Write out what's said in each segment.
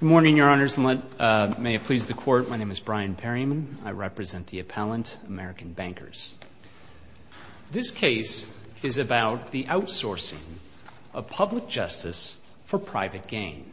Good morning, Your Honors, and may it please the Court, my name is Brian Perryman. I represent the appellant, American Bankers. This case is about the outsourcing of public justice for private gain.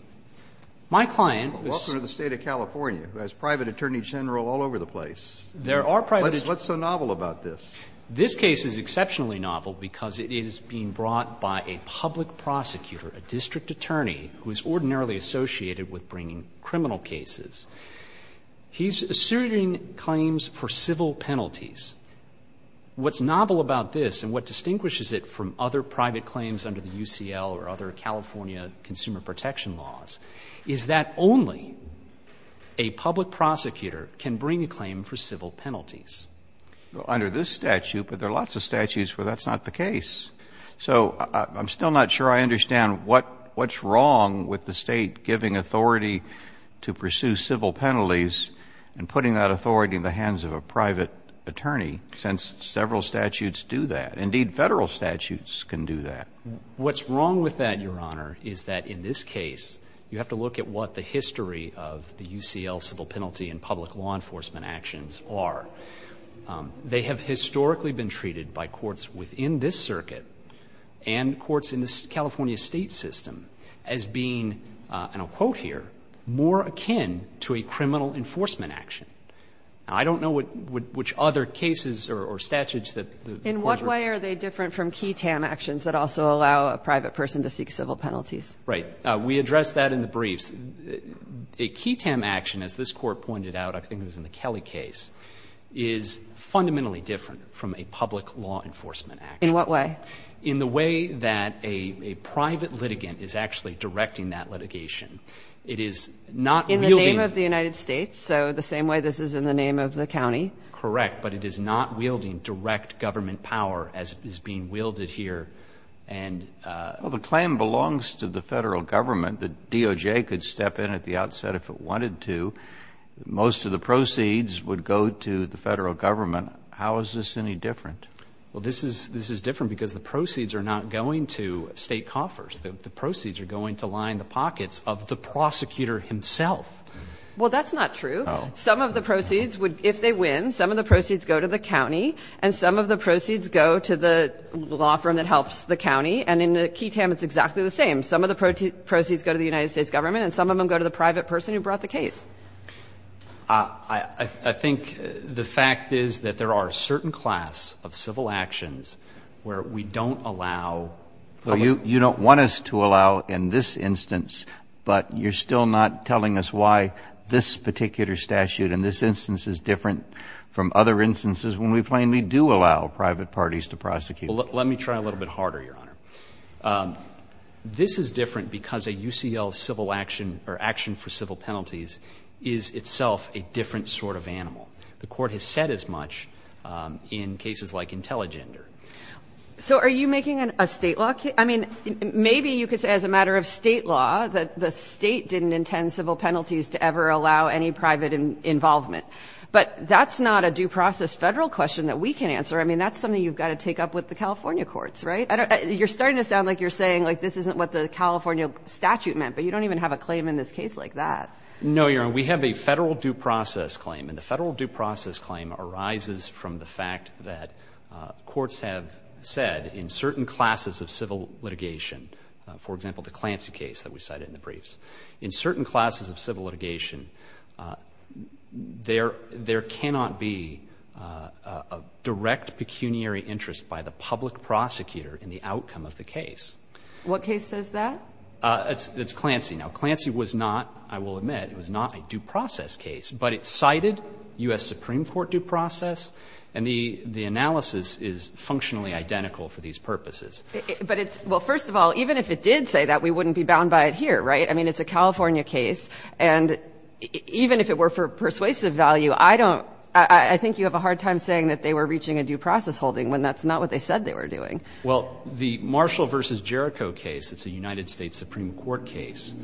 My client was Welcome to the State of California, who has private attorney general all over the place. There are private What's so novel about this? This case is exceptionally novel because it is being brought by a public prosecutor, a district attorney who is ordinarily associated with bringing criminal cases. He's asserting claims for civil penalties. What's novel about this, and what distinguishes it from other private claims under the UCL or other California consumer protection laws, is that only a public prosecutor can bring a claim for civil penalties. Well, under this statute, but there are lots of statutes where that's not the case. So I'm still not sure I understand what's wrong with the State giving authority to pursue civil penalties and putting that authority in the hands of a private attorney, since several statutes do that. Indeed, federal statutes can do that. What's wrong with that, Your Honor, is that in this case, you have to look at what the history of the UCL civil penalty and public law enforcement actions are. They have historically been treated by courts within this circuit and courts in the California State system as being, and I'll quote here, more akin to a criminal enforcement action. I don't know which other cases or statutes that the court would In what way are they different from key TAM actions that also allow a private person to seek civil penalties? Right. We addressed that in the briefs. A key TAM action, as this Court pointed out, I think it was in the Kelly case, is fundamentally different from a public law enforcement action. In what way? In the way that a private litigant is actually directing that litigation. It is not wielding In the name of the United States, so the same way this is in the name of the county. Correct. But it is not wielding direct government power as is being wielded here. Well, the claim belongs to the Federal Government. The DOJ could step in at the outset if it wanted to. Most of the proceeds would go to the Federal Government. How is this any different? Well, this is different because the proceeds are not going to state coffers. The proceeds are going to line the pockets of the prosecutor himself. Well, that's not true. Some of the proceeds would, if they win, some of the proceeds go to the county, and some of the proceeds go to the law firm that helps the county. And in the key TAM, it's exactly the same. Some of the proceeds go to the United States Government and some of them go to the private person who brought the case. I think the fact is that there are a certain class of civil actions where we don't allow. So you don't want us to allow in this instance, but you're still not telling us why this particular statute in this instance is different from other instances when we plainly do allow private parties to prosecute. Well, let me try a little bit harder, Your Honor. This is different because a UCL civil action or action for civil penalties is itself a different sort of animal. The Court has said as much in cases like Intelligender. So are you making a State law case? I mean, maybe you could say as a matter of State law that the State didn't intend civil penalties to ever allow any private involvement. But that's not a due process Federal question that we can answer. I mean, that's something you've got to take up with the California courts, right? You're starting to sound like you're saying like this isn't what the California statute meant, but you don't even have a claim in this case like that. No, Your Honor. We have a Federal due process claim. And the Federal due process claim arises from the fact that courts have said in certain classes of civil litigation, for example, the Clancy case that we cited in the briefs. In certain classes of civil litigation, there cannot be a direct pecuniary interest by the public prosecutor in the outcome of the case. What case says that? It's Clancy. Now, Clancy was not, I will admit, it was not a due process case. But it cited U.S. Supreme Court due process, and the analysis is functionally identical for these purposes. But it's – well, first of all, even if it did say that, we wouldn't be bound by it here, right? I mean, it's a California case. And even if it were for persuasive value, I don't – I think you have a hard time saying that they were reaching a due process holding when that's not what they said they were doing. Well, the Marshall v. Jericho case, it's a United States Supreme Court case,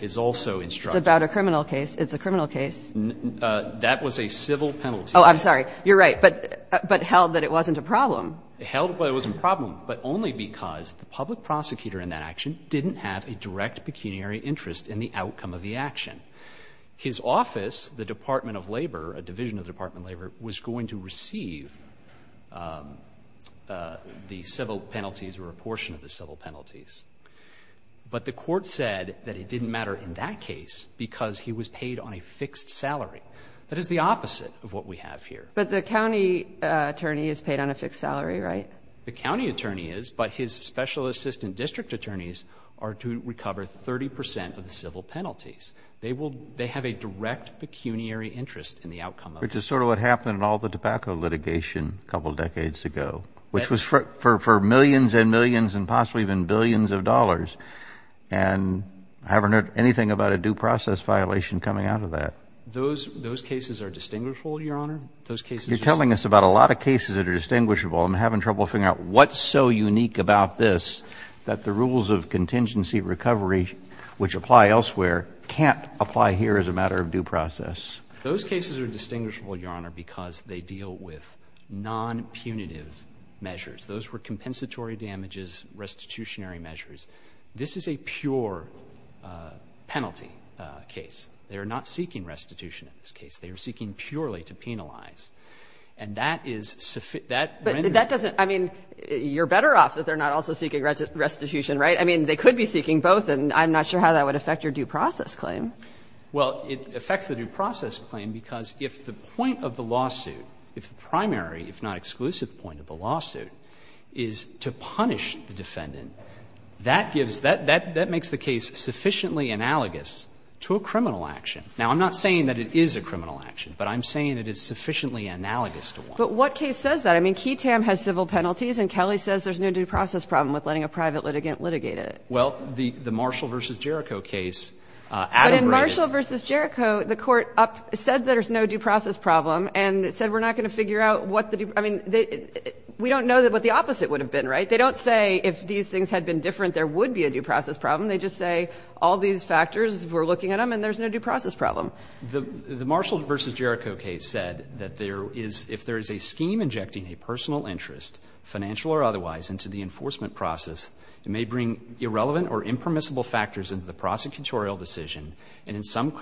is also instructive. It's about a criminal case. It's a criminal case. That was a civil penalty. Oh, I'm sorry. You're right. But held that it wasn't a problem. Held that it wasn't a problem, but only because the public prosecutor in that action didn't have a direct pecuniary interest in the outcome of the action. His office, the Department of Labor, a division of the Department of Labor, was going to receive the civil penalties or a portion of the civil penalties. But the Court said that it didn't matter in that case because he was paid on a fixed salary. That is the opposite of what we have here. But the county attorney is paid on a fixed salary, right? The county attorney is, but his special assistant district attorneys are to recover 30 percent of the civil penalties. They have a direct pecuniary interest in the outcome of this. Which is sort of what happened in all the tobacco litigation a couple of decades ago, which was for millions and millions and possibly even billions of dollars. And I haven't heard anything about a due process violation coming out of that. Those cases are distinguishable, Your Honor. Those cases are distinguishable. But there are a lot of cases that are distinguishable. I'm having trouble figuring out what's so unique about this that the rules of contingency recovery, which apply elsewhere, can't apply here as a matter of due process. Those cases are distinguishable, Your Honor, because they deal with non-punitive measures. Those were compensatory damages, restitutionary measures. This is a pure penalty case. They are not seeking restitution in this case. They are seeking purely to penalize. And that is sufficient. That renders. But that doesn't – I mean, you're better off that they're not also seeking restitution, right? I mean, they could be seeking both, and I'm not sure how that would affect your due process claim. Well, it affects the due process claim because if the point of the lawsuit, if the primary, if not exclusive, point of the lawsuit is to punish the defendant, that gives – that makes the case sufficiently analogous to a criminal action. Now, I'm not saying that it is a criminal action, but I'm saying it is sufficiently analogous to one. But what case says that? I mean, Keetam has civil penalties, and Kelly says there's no due process problem with letting a private litigant litigate it. Well, the Marshall v. Jericho case adebrated. But in Marshall v. Jericho, the Court said there's no due process problem, and it said we're not going to figure out what the due – I mean, we don't know what the opposite would have been, right? They don't say if these things had been different, there would be a due process problem. They just say all these factors, we're looking at them, and there's no due process problem. The Marshall v. Jericho case said that there is – if there is a scheme injecting a personal interest, financial or otherwise, into the enforcement process, it may bring irrelevant or impermissible factors into the prosecutorial decision and in some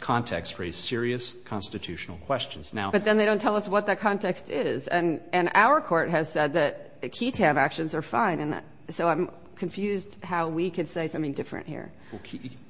context raise serious constitutional questions. Now – But then they don't tell us what that context is. And our Court has said that Keetam actions are fine. And so I'm confused how we could say something different here. Well, Keetam –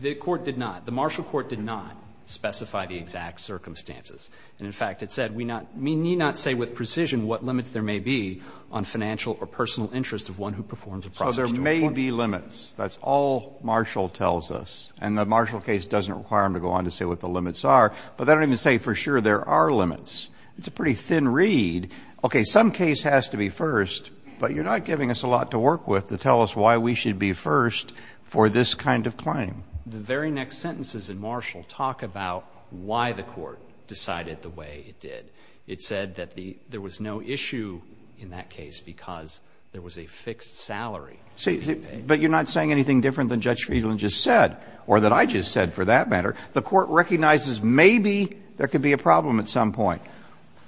the Court did not – the Marshall court did not specify the exact circumstances. And in fact, it said we not – we need not say with precision what limits there may be on financial or personal interest of one who performs a process to enforce. So there may be limits. That's all Marshall tells us. And the Marshall case doesn't require them to go on to say what the limits are. But they don't even say for sure there are limits. It's a pretty thin read. Okay, some case has to be first, but you're not giving us a lot to work with to tell us why we should be first for this kind of claim. The very next sentences in Marshall talk about why the Court decided the way it did. It said that the – there was no issue in that case because there was a fixed salary. See, but you're not saying anything different than Judge Friedland just said or that I just said for that matter. The Court recognizes maybe there could be a problem at some point.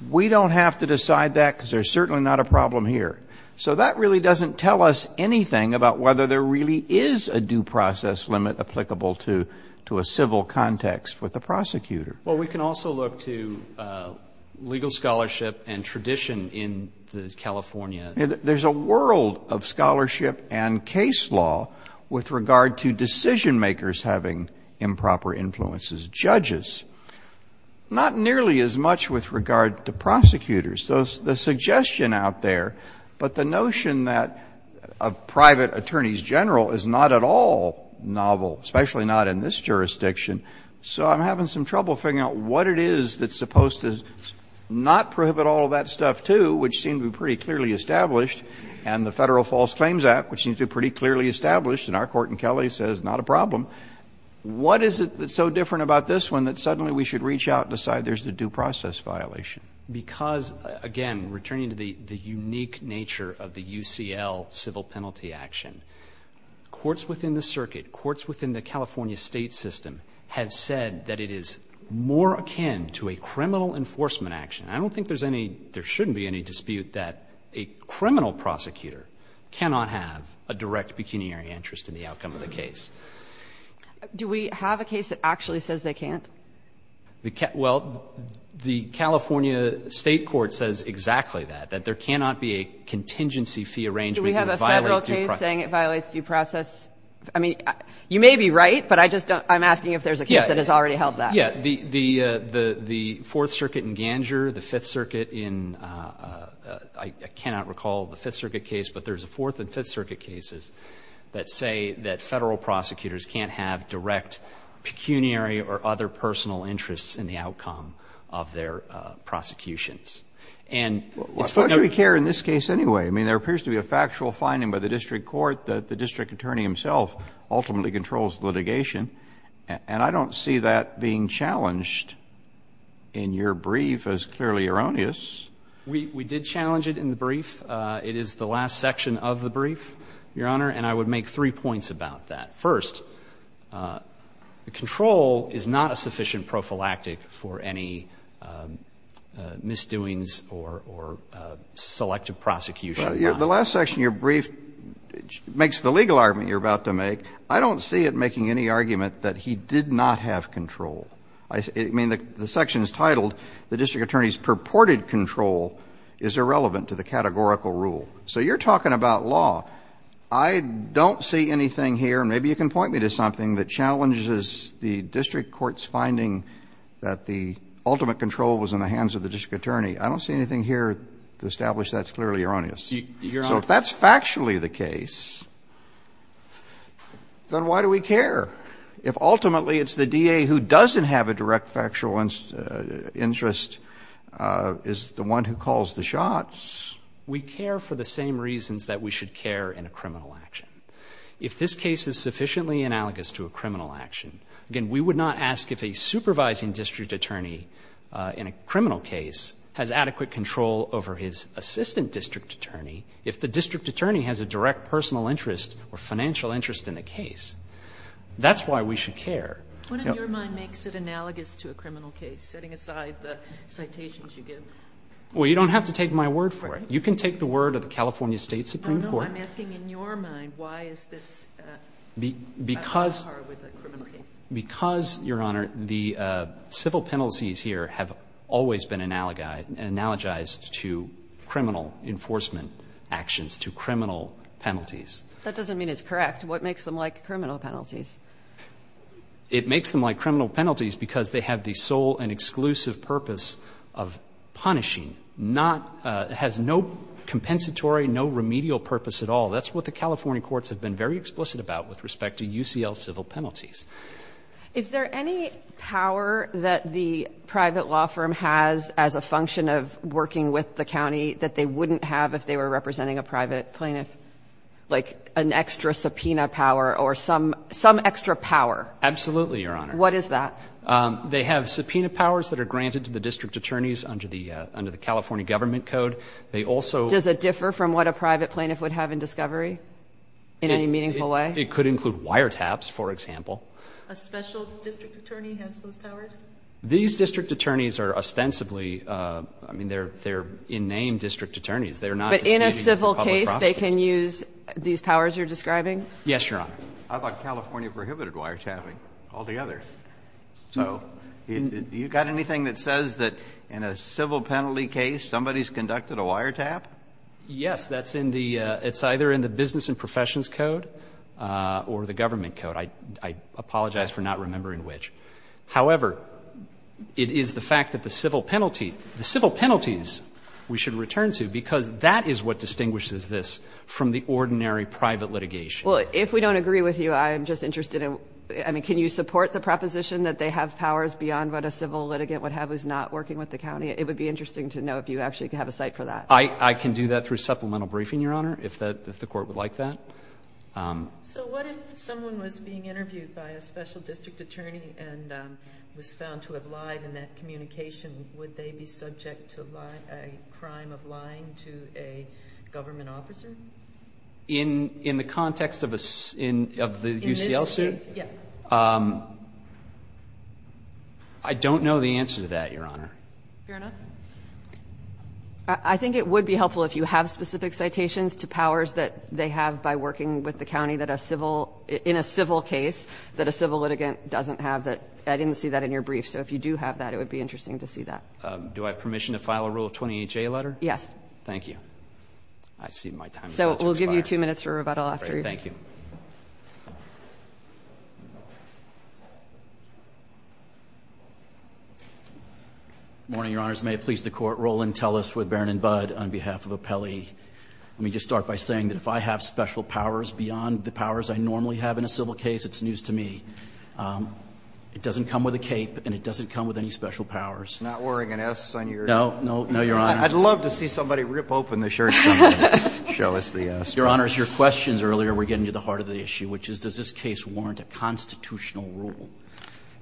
We don't have to decide that because there's certainly not a problem here. So that really doesn't tell us anything about whether there really is a due process limit applicable to a civil context with the prosecutor. Well, we can also look to legal scholarship and tradition in California. There's a world of scholarship and case law with regard to decision makers having improper influences. Judges, not nearly as much with regard to prosecutors. So the suggestion out there, but the notion that a private attorney's general is not at all novel, especially not in this jurisdiction. So I'm having some trouble figuring out what it is that's supposed to not prohibit all of that stuff, too, which seems to be pretty clearly established. And the Federal False Claims Act, which seems to be pretty clearly established in our court in Kelly, says not a problem. What is it that's so different about this one that suddenly we should reach out and decide there's a due process violation? Because, again, returning to the unique nature of the UCL civil penalty action, courts within the circuit, courts within the California state system, have said that it is more akin to a criminal enforcement action. I don't think there's any, there shouldn't be any dispute that a criminal prosecutor cannot have a direct pecuniary interest in the outcome of the case. Do we have a case that actually says they can't? Well, the California state court says exactly that, that there cannot be a contingency fee arrangement that violates due process. Do we have a Federal case saying it violates due process? I mean, you may be right, but I just don't, I'm asking if there's a case that has already held that. Yeah, the Fourth Circuit in Ganger, the Fifth Circuit in, I cannot recall the Fifth Circuit case, but there's a Fourth and Fifth Circuit cases that say that Federal prosecutors can't have direct pecuniary or other personal interests in the outcome of their prosecutions. And it's for the- Why should we care in this case anyway? I mean, there appears to be a factual finding by the district court that the district attorney himself ultimately controls litigation. And I don't see that being challenged in your brief as clearly erroneous. We did challenge it in the brief. It is the last section of the brief, Your Honor, and I would make three points about that. First, the control is not a sufficient prophylactic for any misdoings or, or selective prosecution. The last section of your brief makes the legal argument you're about to make. I don't see it making any argument that he did not have control. I mean, the section is titled, the district attorney's purported control is irrelevant to the categorical rule. So you're talking about law. I don't see anything here, and maybe you can point me to something, that challenges the district court's finding that the ultimate control was in the hands of the district attorney. I don't see anything here to establish that's clearly erroneous. Your Honor- So if that's factually the case, then why do we care? If ultimately it's the DA who doesn't have a direct factual interest, is the one who gets the shots. We care for the same reasons that we should care in a criminal action. If this case is sufficiently analogous to a criminal action, again, we would not ask if a supervising district attorney in a criminal case has adequate control over his assistant district attorney. If the district attorney has a direct personal interest or financial interest in the case, that's why we should care. What in your mind makes it analogous to a criminal case, setting aside the citations you give? Well, you don't have to take my word for it. You can take the word of the California State Supreme Court. No, no. I'm asking in your mind, why is this a battle of the heart with a criminal case? Because, Your Honor, the civil penalties here have always been analogized to criminal enforcement actions, to criminal penalties. That doesn't mean it's correct. What makes them like criminal penalties? It makes them like criminal penalties because they have the sole and exclusive purpose of punishing, has no compensatory, no remedial purpose at all. That's what the California courts have been very explicit about with respect to UCL civil penalties. Is there any power that the private law firm has as a function of working with the county that they wouldn't have if they were representing a private plaintiff, like an extra subpoena power or some extra power? Absolutely, Your Honor. What is that? They have subpoena powers that are granted to the district attorneys under the California government code. They also... Does it differ from what a private plaintiff would have in discovery in any meaningful way? It could include wire taps, for example. A special district attorney has those powers? These district attorneys are ostensibly, I mean, they're in name district attorneys. They're not... Yes, Your Honor. I thought California prohibited wire tapping altogether. So do you got anything that says that in a civil penalty case somebody's conducted a wire tap? Yes. That's in the — it's either in the Business and Professions Code or the government code. I apologize for not remembering which. However, it is the fact that the civil penalty — the civil penalties we should return to because that is what distinguishes this from the ordinary private litigation. Well, if we don't agree with you, I'm just interested in — I mean, can you support the proposition that they have powers beyond what a civil litigant would have who's not working with the county? It would be interesting to know if you actually have a site for that. I can do that through supplemental briefing, Your Honor, if the court would like that. So what if someone was being interviewed by a special district attorney and was found to have lied in that communication, would they be subject to a crime of lying to a government officer? In the context of a — of the UCL suit? In this case, yes. I don't know the answer to that, Your Honor. Fair enough. I think it would be helpful if you have specific citations to powers that they have by working with the county that a civil — in a civil case that a civil litigant doesn't have. I didn't see that in your brief. So if you do have that, it would be interesting to see that. Do I have permission to file a Rule of 20HA letter? Yes. Thank you. I see my time is about to expire. So we'll give you two minutes for rebuttal after you're done. Thank you. Good morning, Your Honors. May it please the Court, Roland Tellis with Barron & Budd on behalf of Apelli. Let me just start by saying that if I have special powers beyond the powers I normally have in a civil case, it's news to me. It doesn't come with a cape, and it doesn't come with any special powers. Not wearing an S on your — No, no, no, Your Honor. I'd love to see somebody rip open the shirt and show us the S. Your Honors, your questions earlier were getting to the heart of the issue, which is, does this case warrant a constitutional rule?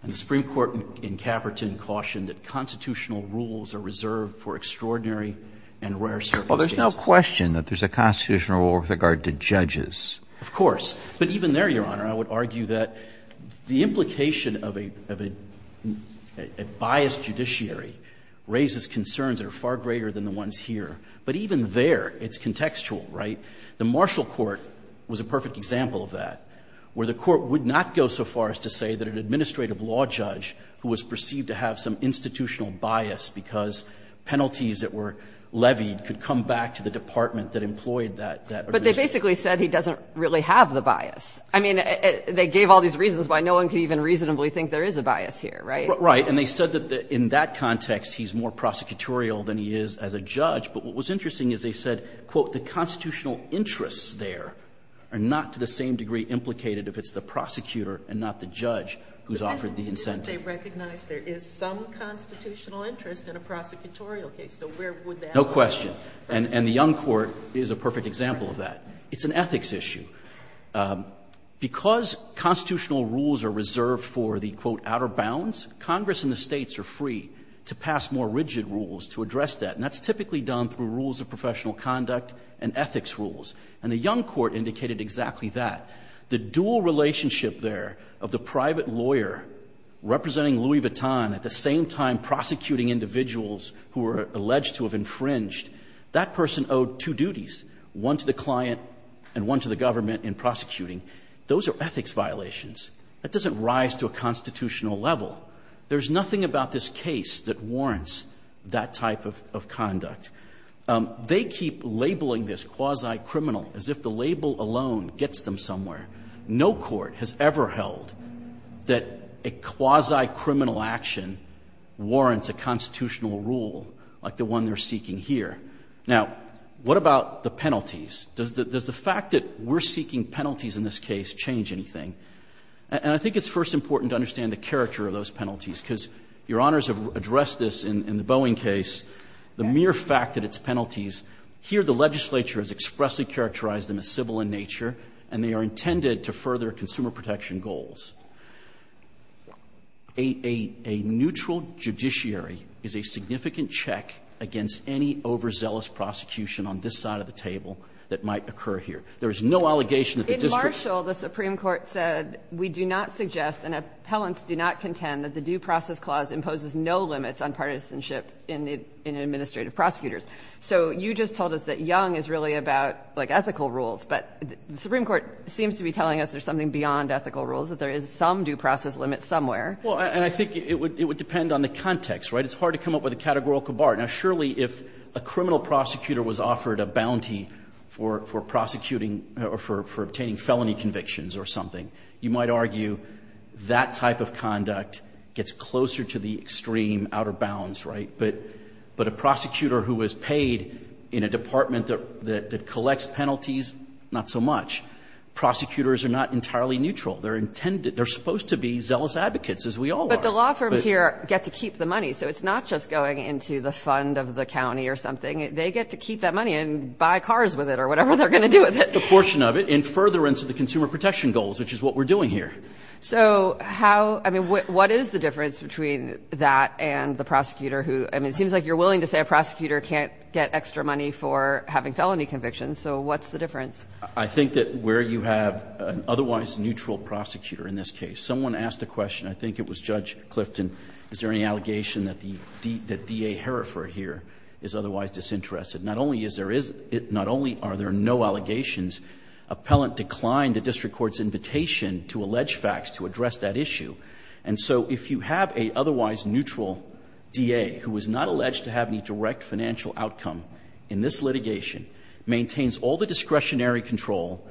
And the Supreme Court in Caperton cautioned that constitutional rules are reserved for extraordinary and rare circumstances. Well, there's no question that there's a constitutional rule with regard to judges. Of course. But even there, Your Honor, I would argue that the implication of a — of a biased judiciary raises concerns that are far greater than the ones here. But even there, it's contextual, right? The Marshall Court was a perfect example of that, where the Court would not go so far as to say that an administrative law judge who was perceived to have some institutional bias because penalties that were levied could come back to the department that employed that — But they basically said he doesn't really have the bias. I mean, they gave all these reasons why no one could even reasonably think there is a bias here, right? Right. And they said that in that context, he's more prosecutorial than he is as a judge. But what was interesting is they said, quote, the constitutional interests there are not to the same degree implicated if it's the prosecutor and not the judge who's offered the incentive. But didn't they recognize there is some constitutional interest in a prosecutorial case? So where would that lie? No question. And the Young Court is a perfect example of that. It's an ethics issue. Because constitutional rules are reserved for the, quote, outer bounds, Congress and the States are free to pass more rigid rules to address that. And that's typically done through rules of professional conduct and ethics rules. And the Young Court indicated exactly that. The dual relationship there of the private lawyer representing Louis Vuitton at the same time prosecuting individuals who were alleged to have infringed, that person owed two duties, one to the client and one to the government in prosecuting. Those are ethics violations. That doesn't rise to a constitutional level. There's nothing about this case that warrants that type of conduct. They keep labeling this quasi-criminal as if the label alone gets them somewhere. No court has ever held that a quasi-criminal action warrants a constitutional rule like the one they're seeking here. Now, what about the penalties? Does the fact that we're seeking penalties in this case change anything? And I think it's first important to understand the character of those penalties because Your Honors have addressed this in the Boeing case. The mere fact that it's penalties, here the legislature has expressly characterized them as civil in nature and they are intended to further consumer protection goals. A neutral judiciary is a significant check against any overzealous prosecution on this side of the table that might occur here. There is no allegation that the district ---- In Marshall, the Supreme Court said we do not suggest and appellants do not contend that the Due Process Clause imposes no limits on partisanship in administrative prosecutors. So you just told us that Young is really about, like, ethical rules, but the Supreme Court seems to be telling us there's something beyond ethical rules, that there is some due process limit somewhere. Well, and I think it would depend on the context, right? It's hard to come up with a categorical bar. Now, surely if a criminal prosecutor was offered a bounty for prosecuting or for obtaining felony convictions or something, you might argue that type of conduct gets closer to the extreme outer bounds, right? But a prosecutor who is paid in a department that collects penalties, not so much. Prosecutors are not entirely neutral. They're intended, they're supposed to be zealous advocates, as we all are. But the law firms here get to keep the money. So it's not just going into the fund of the county or something. They get to keep that money and buy cars with it or whatever they're going to do with it. The portion of it in furtherance of the consumer protection goals, which is what we're doing here. So how ---- I mean, what is the difference between that and the prosecutor who ---- I mean, it seems like you're willing to say a prosecutor can't get extra money for having felony convictions. So what's the difference? I think that where you have an otherwise neutral prosecutor in this case. Someone asked a question. I think it was Judge Clifton. Is there any allegation that the DA here is otherwise disinterested? Not only is there is not only are there no allegations, appellant declined the district court's invitation to allege facts to address that issue. And so if you have an otherwise neutral DA who is not alleged to have any direct financial outcome in this litigation, maintains all the discretionary control,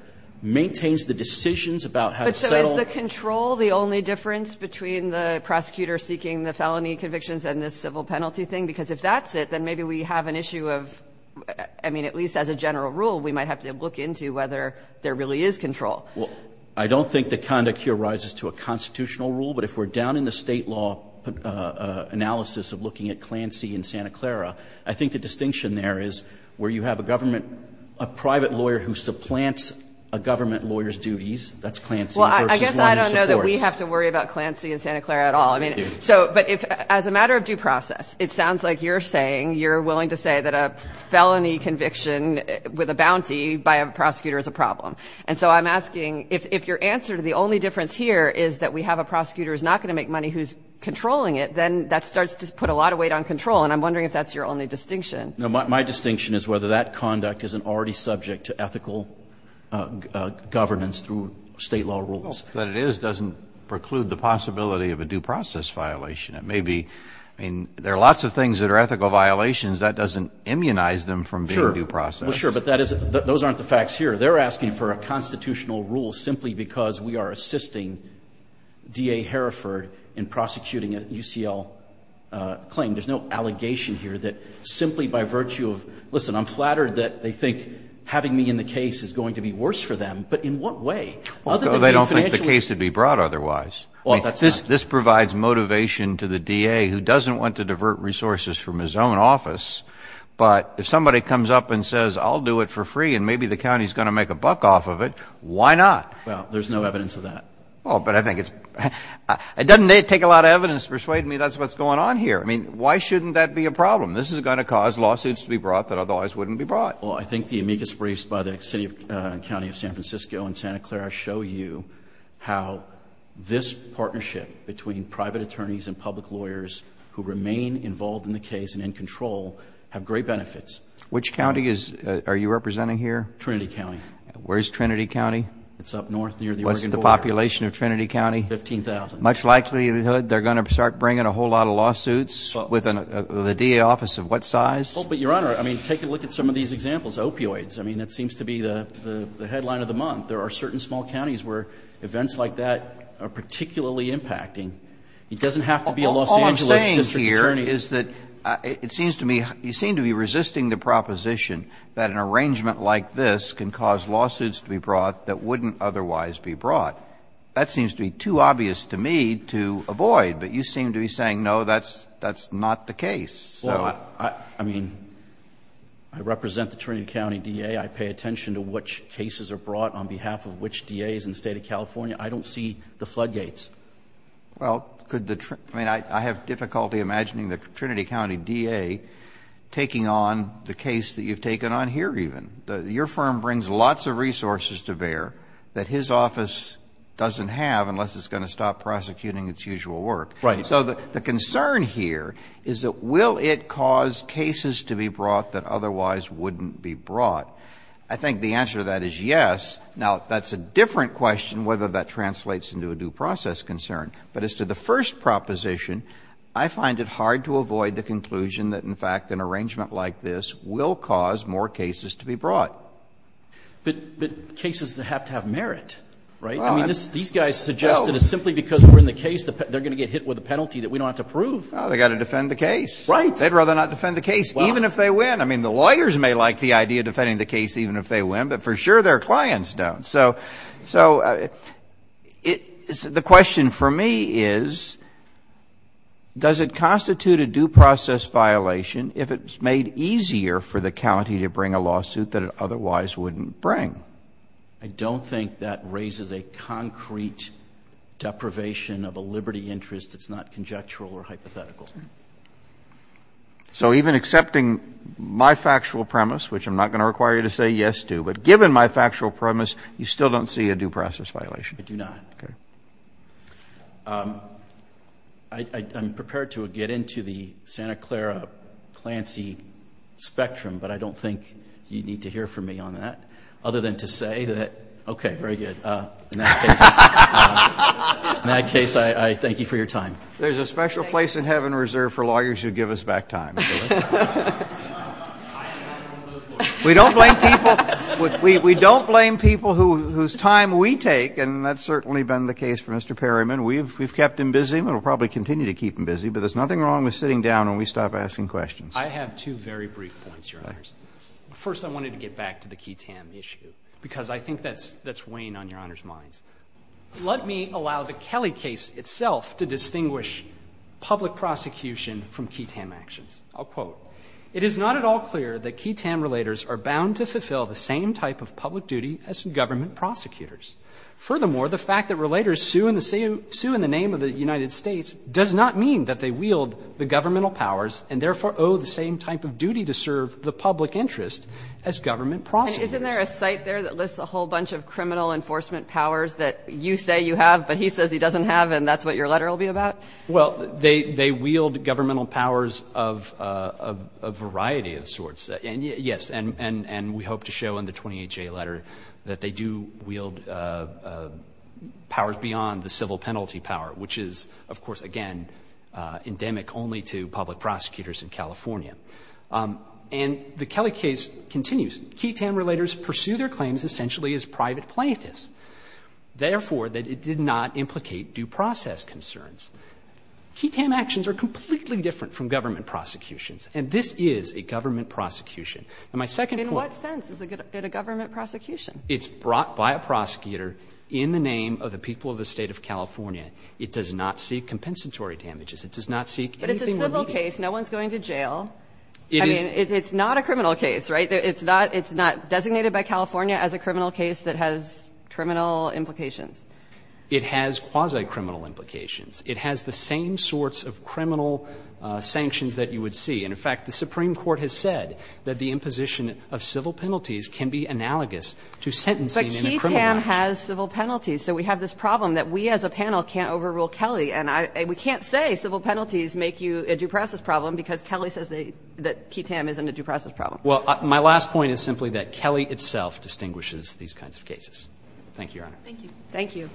maintains the decisions about how to settle ---- But so is the control the only difference between the prosecutor seeking the felony convictions and this civil penalty thing? Because if that's it, then maybe we have an issue of ---- I mean, at least as a general rule, we might have to look into whether there really is control. Well, I don't think the conduct here rises to a constitutional rule. But if we're down in the State law analysis of looking at Clancy and Santa Clara, I think the distinction there is where you have a government ---- a private lawyer who supplants a government lawyer's duties, that's Clancy versus one who supports. Well, I guess I don't know that we have to worry about Clancy and Santa Clara at all. I mean, so but if as a matter of due process, it sounds like you're saying you're willing to say that a felony conviction with a bounty by a prosecutor is a problem. And so I'm asking if your answer to the only difference here is that we have a prosecutor who's not going to make money who's controlling it, then that starts to put a lot of weight on control. And I'm wondering if that's your only distinction. No, my distinction is whether that conduct isn't already subject to ethical governance through State law rules. Well, what it is doesn't preclude the possibility of a due process violation. It may be ---- I mean, there are lots of things that are ethical violations. That doesn't immunize them from being due process. Sure. Well, sure. But that is ---- those aren't the facts here. They're asking for a constitutional rule simply because we are assisting D.A. Hereford in prosecuting a UCL claim. There's no allegation here that simply by virtue of ---- listen, I'm flattered that they think having me in the case is going to be worse for them. But in what way? Other than being financially ---- Well, they don't think the case would be brought otherwise. Well, that's not ---- I mean, this provides motivation to the D.A. who doesn't want to divert resources from his own office. But if somebody comes up and says, I'll do it for free and maybe the county's going to make a buck off of it, why not? Well, there's no evidence of that. Well, but I think it's ---- it doesn't take a lot of evidence to persuade me that's what's going on here. I mean, why shouldn't that be a problem? This is going to cause lawsuits to be brought that otherwise wouldn't be brought. Well, I think the amicus briefs by the city and county of San Francisco and Santa Clara show you how this partnership between private attorneys and public lawyers who remain involved in the case and in control have great benefits. Which county is ---- are you representing here? Trinity County. Where's Trinity County? It's up north near the Oregon border. What's the population of Trinity County? Fifteen thousand. Much likelihood they're going to start bringing a whole lot of lawsuits with a DA office of what size? Well, but, Your Honor, I mean, take a look at some of these examples. Opioids, I mean, that seems to be the headline of the month. There are certain small counties where events like that are particularly impacting. It doesn't have to be a Los Angeles district attorney. All I'm saying here is that it seems to me you seem to be resisting the proposition that an arrangement like this can cause lawsuits to be brought that wouldn't otherwise be brought. That seems to be too obvious to me to avoid. But you seem to be saying, no, that's not the case. Well, I mean, I represent the Trinity County DA. I pay attention to which cases are brought on behalf of which DAs in the State of California. I don't see the floodgates. Well, could the ---- I mean, I have difficulty imagining the Trinity County DA taking on the case that you've taken on here even. Your firm brings lots of resources to bear that his office doesn't have unless it's going to stop prosecuting its usual work. Right. So the concern here is that will it cause cases to be brought that otherwise wouldn't be brought? I think the answer to that is yes. Now, that's a different question whether that translates into a due process concern. But as to the first proposition, I find it hard to avoid the conclusion that, in fact, an arrangement like this will cause more cases to be brought. But cases that have to have merit, right? I mean, these guys suggest that it's simply because we're in the case that they're going to get hit with a penalty that we don't have to prove. Well, they've got to defend the case. Right. They'd rather not defend the case even if they win. I mean, the lawyers may like the idea of defending the case even if they win, but for sure their clients don't. So the question for me is, does it constitute a due process violation if it's made easier for the county to bring a lawsuit that it otherwise wouldn't bring? I don't think that raises a concrete deprivation of a liberty interest that's not conjectural or hypothetical. So even accepting my factual premise, which I'm not going to require you to say yes to, but given my factual premise, you still don't see a due process violation. I do not. Okay. I'm prepared to get into the Santa Clara Clancy spectrum, but I don't think you need to hear from me on that other than to say that, okay, very good. In that case, I thank you for your time. There's a special place in heaven reserved for lawyers who give us back time. We don't blame people whose time we take, and that's certainly been the case for Mr. Perryman. We've kept him busy and we'll probably continue to keep him busy, but there's nothing wrong with sitting down and we stop asking questions. I have two very brief points, Your Honors. First, I wanted to get back to the Key Tam issue, because I think that's weighing on Your Honors' minds. Let me allow the Kelly case itself to distinguish public prosecution from Key Tam actions. I'll quote. It is not at all clear that Key Tam relators are bound to fulfill the same type of public duty as government prosecutors. Furthermore, the fact that relators sue in the name of the United States does not mean that they wield the governmental powers and therefore owe the same type of duty to serve the public interest as government prosecutors. And isn't there a site there that lists a whole bunch of criminal enforcement powers that you say you have but he says he doesn't have and that's what your letter will be about? Well, they wield governmental powers of a variety of sorts. Yes. And we hope to show in the 28J letter that they do wield powers beyond the civil penalty power, which is, of course, again, endemic only to public prosecutors in California. And the Kelly case continues. Key Tam relators pursue their claims essentially as private plaintiffs, therefore that it did not implicate due process concerns. Key Tam actions are completely different from government prosecutions. And this is a government prosecution. And my second point. In what sense is it a government prosecution? It's brought by a prosecutor in the name of the people of the State of California. It does not seek compensatory damages. It does not seek anything remedial. But it's a civil case. No one's going to jail. It is. I mean, it's not a criminal case, right? It's not designated by California as a criminal case that has criminal implications. It has quasi-criminal implications. It has the same sorts of criminal sanctions that you would see. And, in fact, the Supreme Court has said that the imposition of civil penalties can be analogous to sentencing in a criminal case. But Key Tam has civil penalties. So we have this problem that we as a panel can't overrule Kelly. And we can't say civil penalties make you a due process problem because Kelly says that Key Tam isn't a due process problem. Well, my last point is simply that Kelly itself distinguishes these kinds of cases. Thank you, Your Honor. Thank you. Thank you.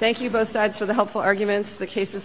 Thank you both sides for the helpful arguments. The case is submitted.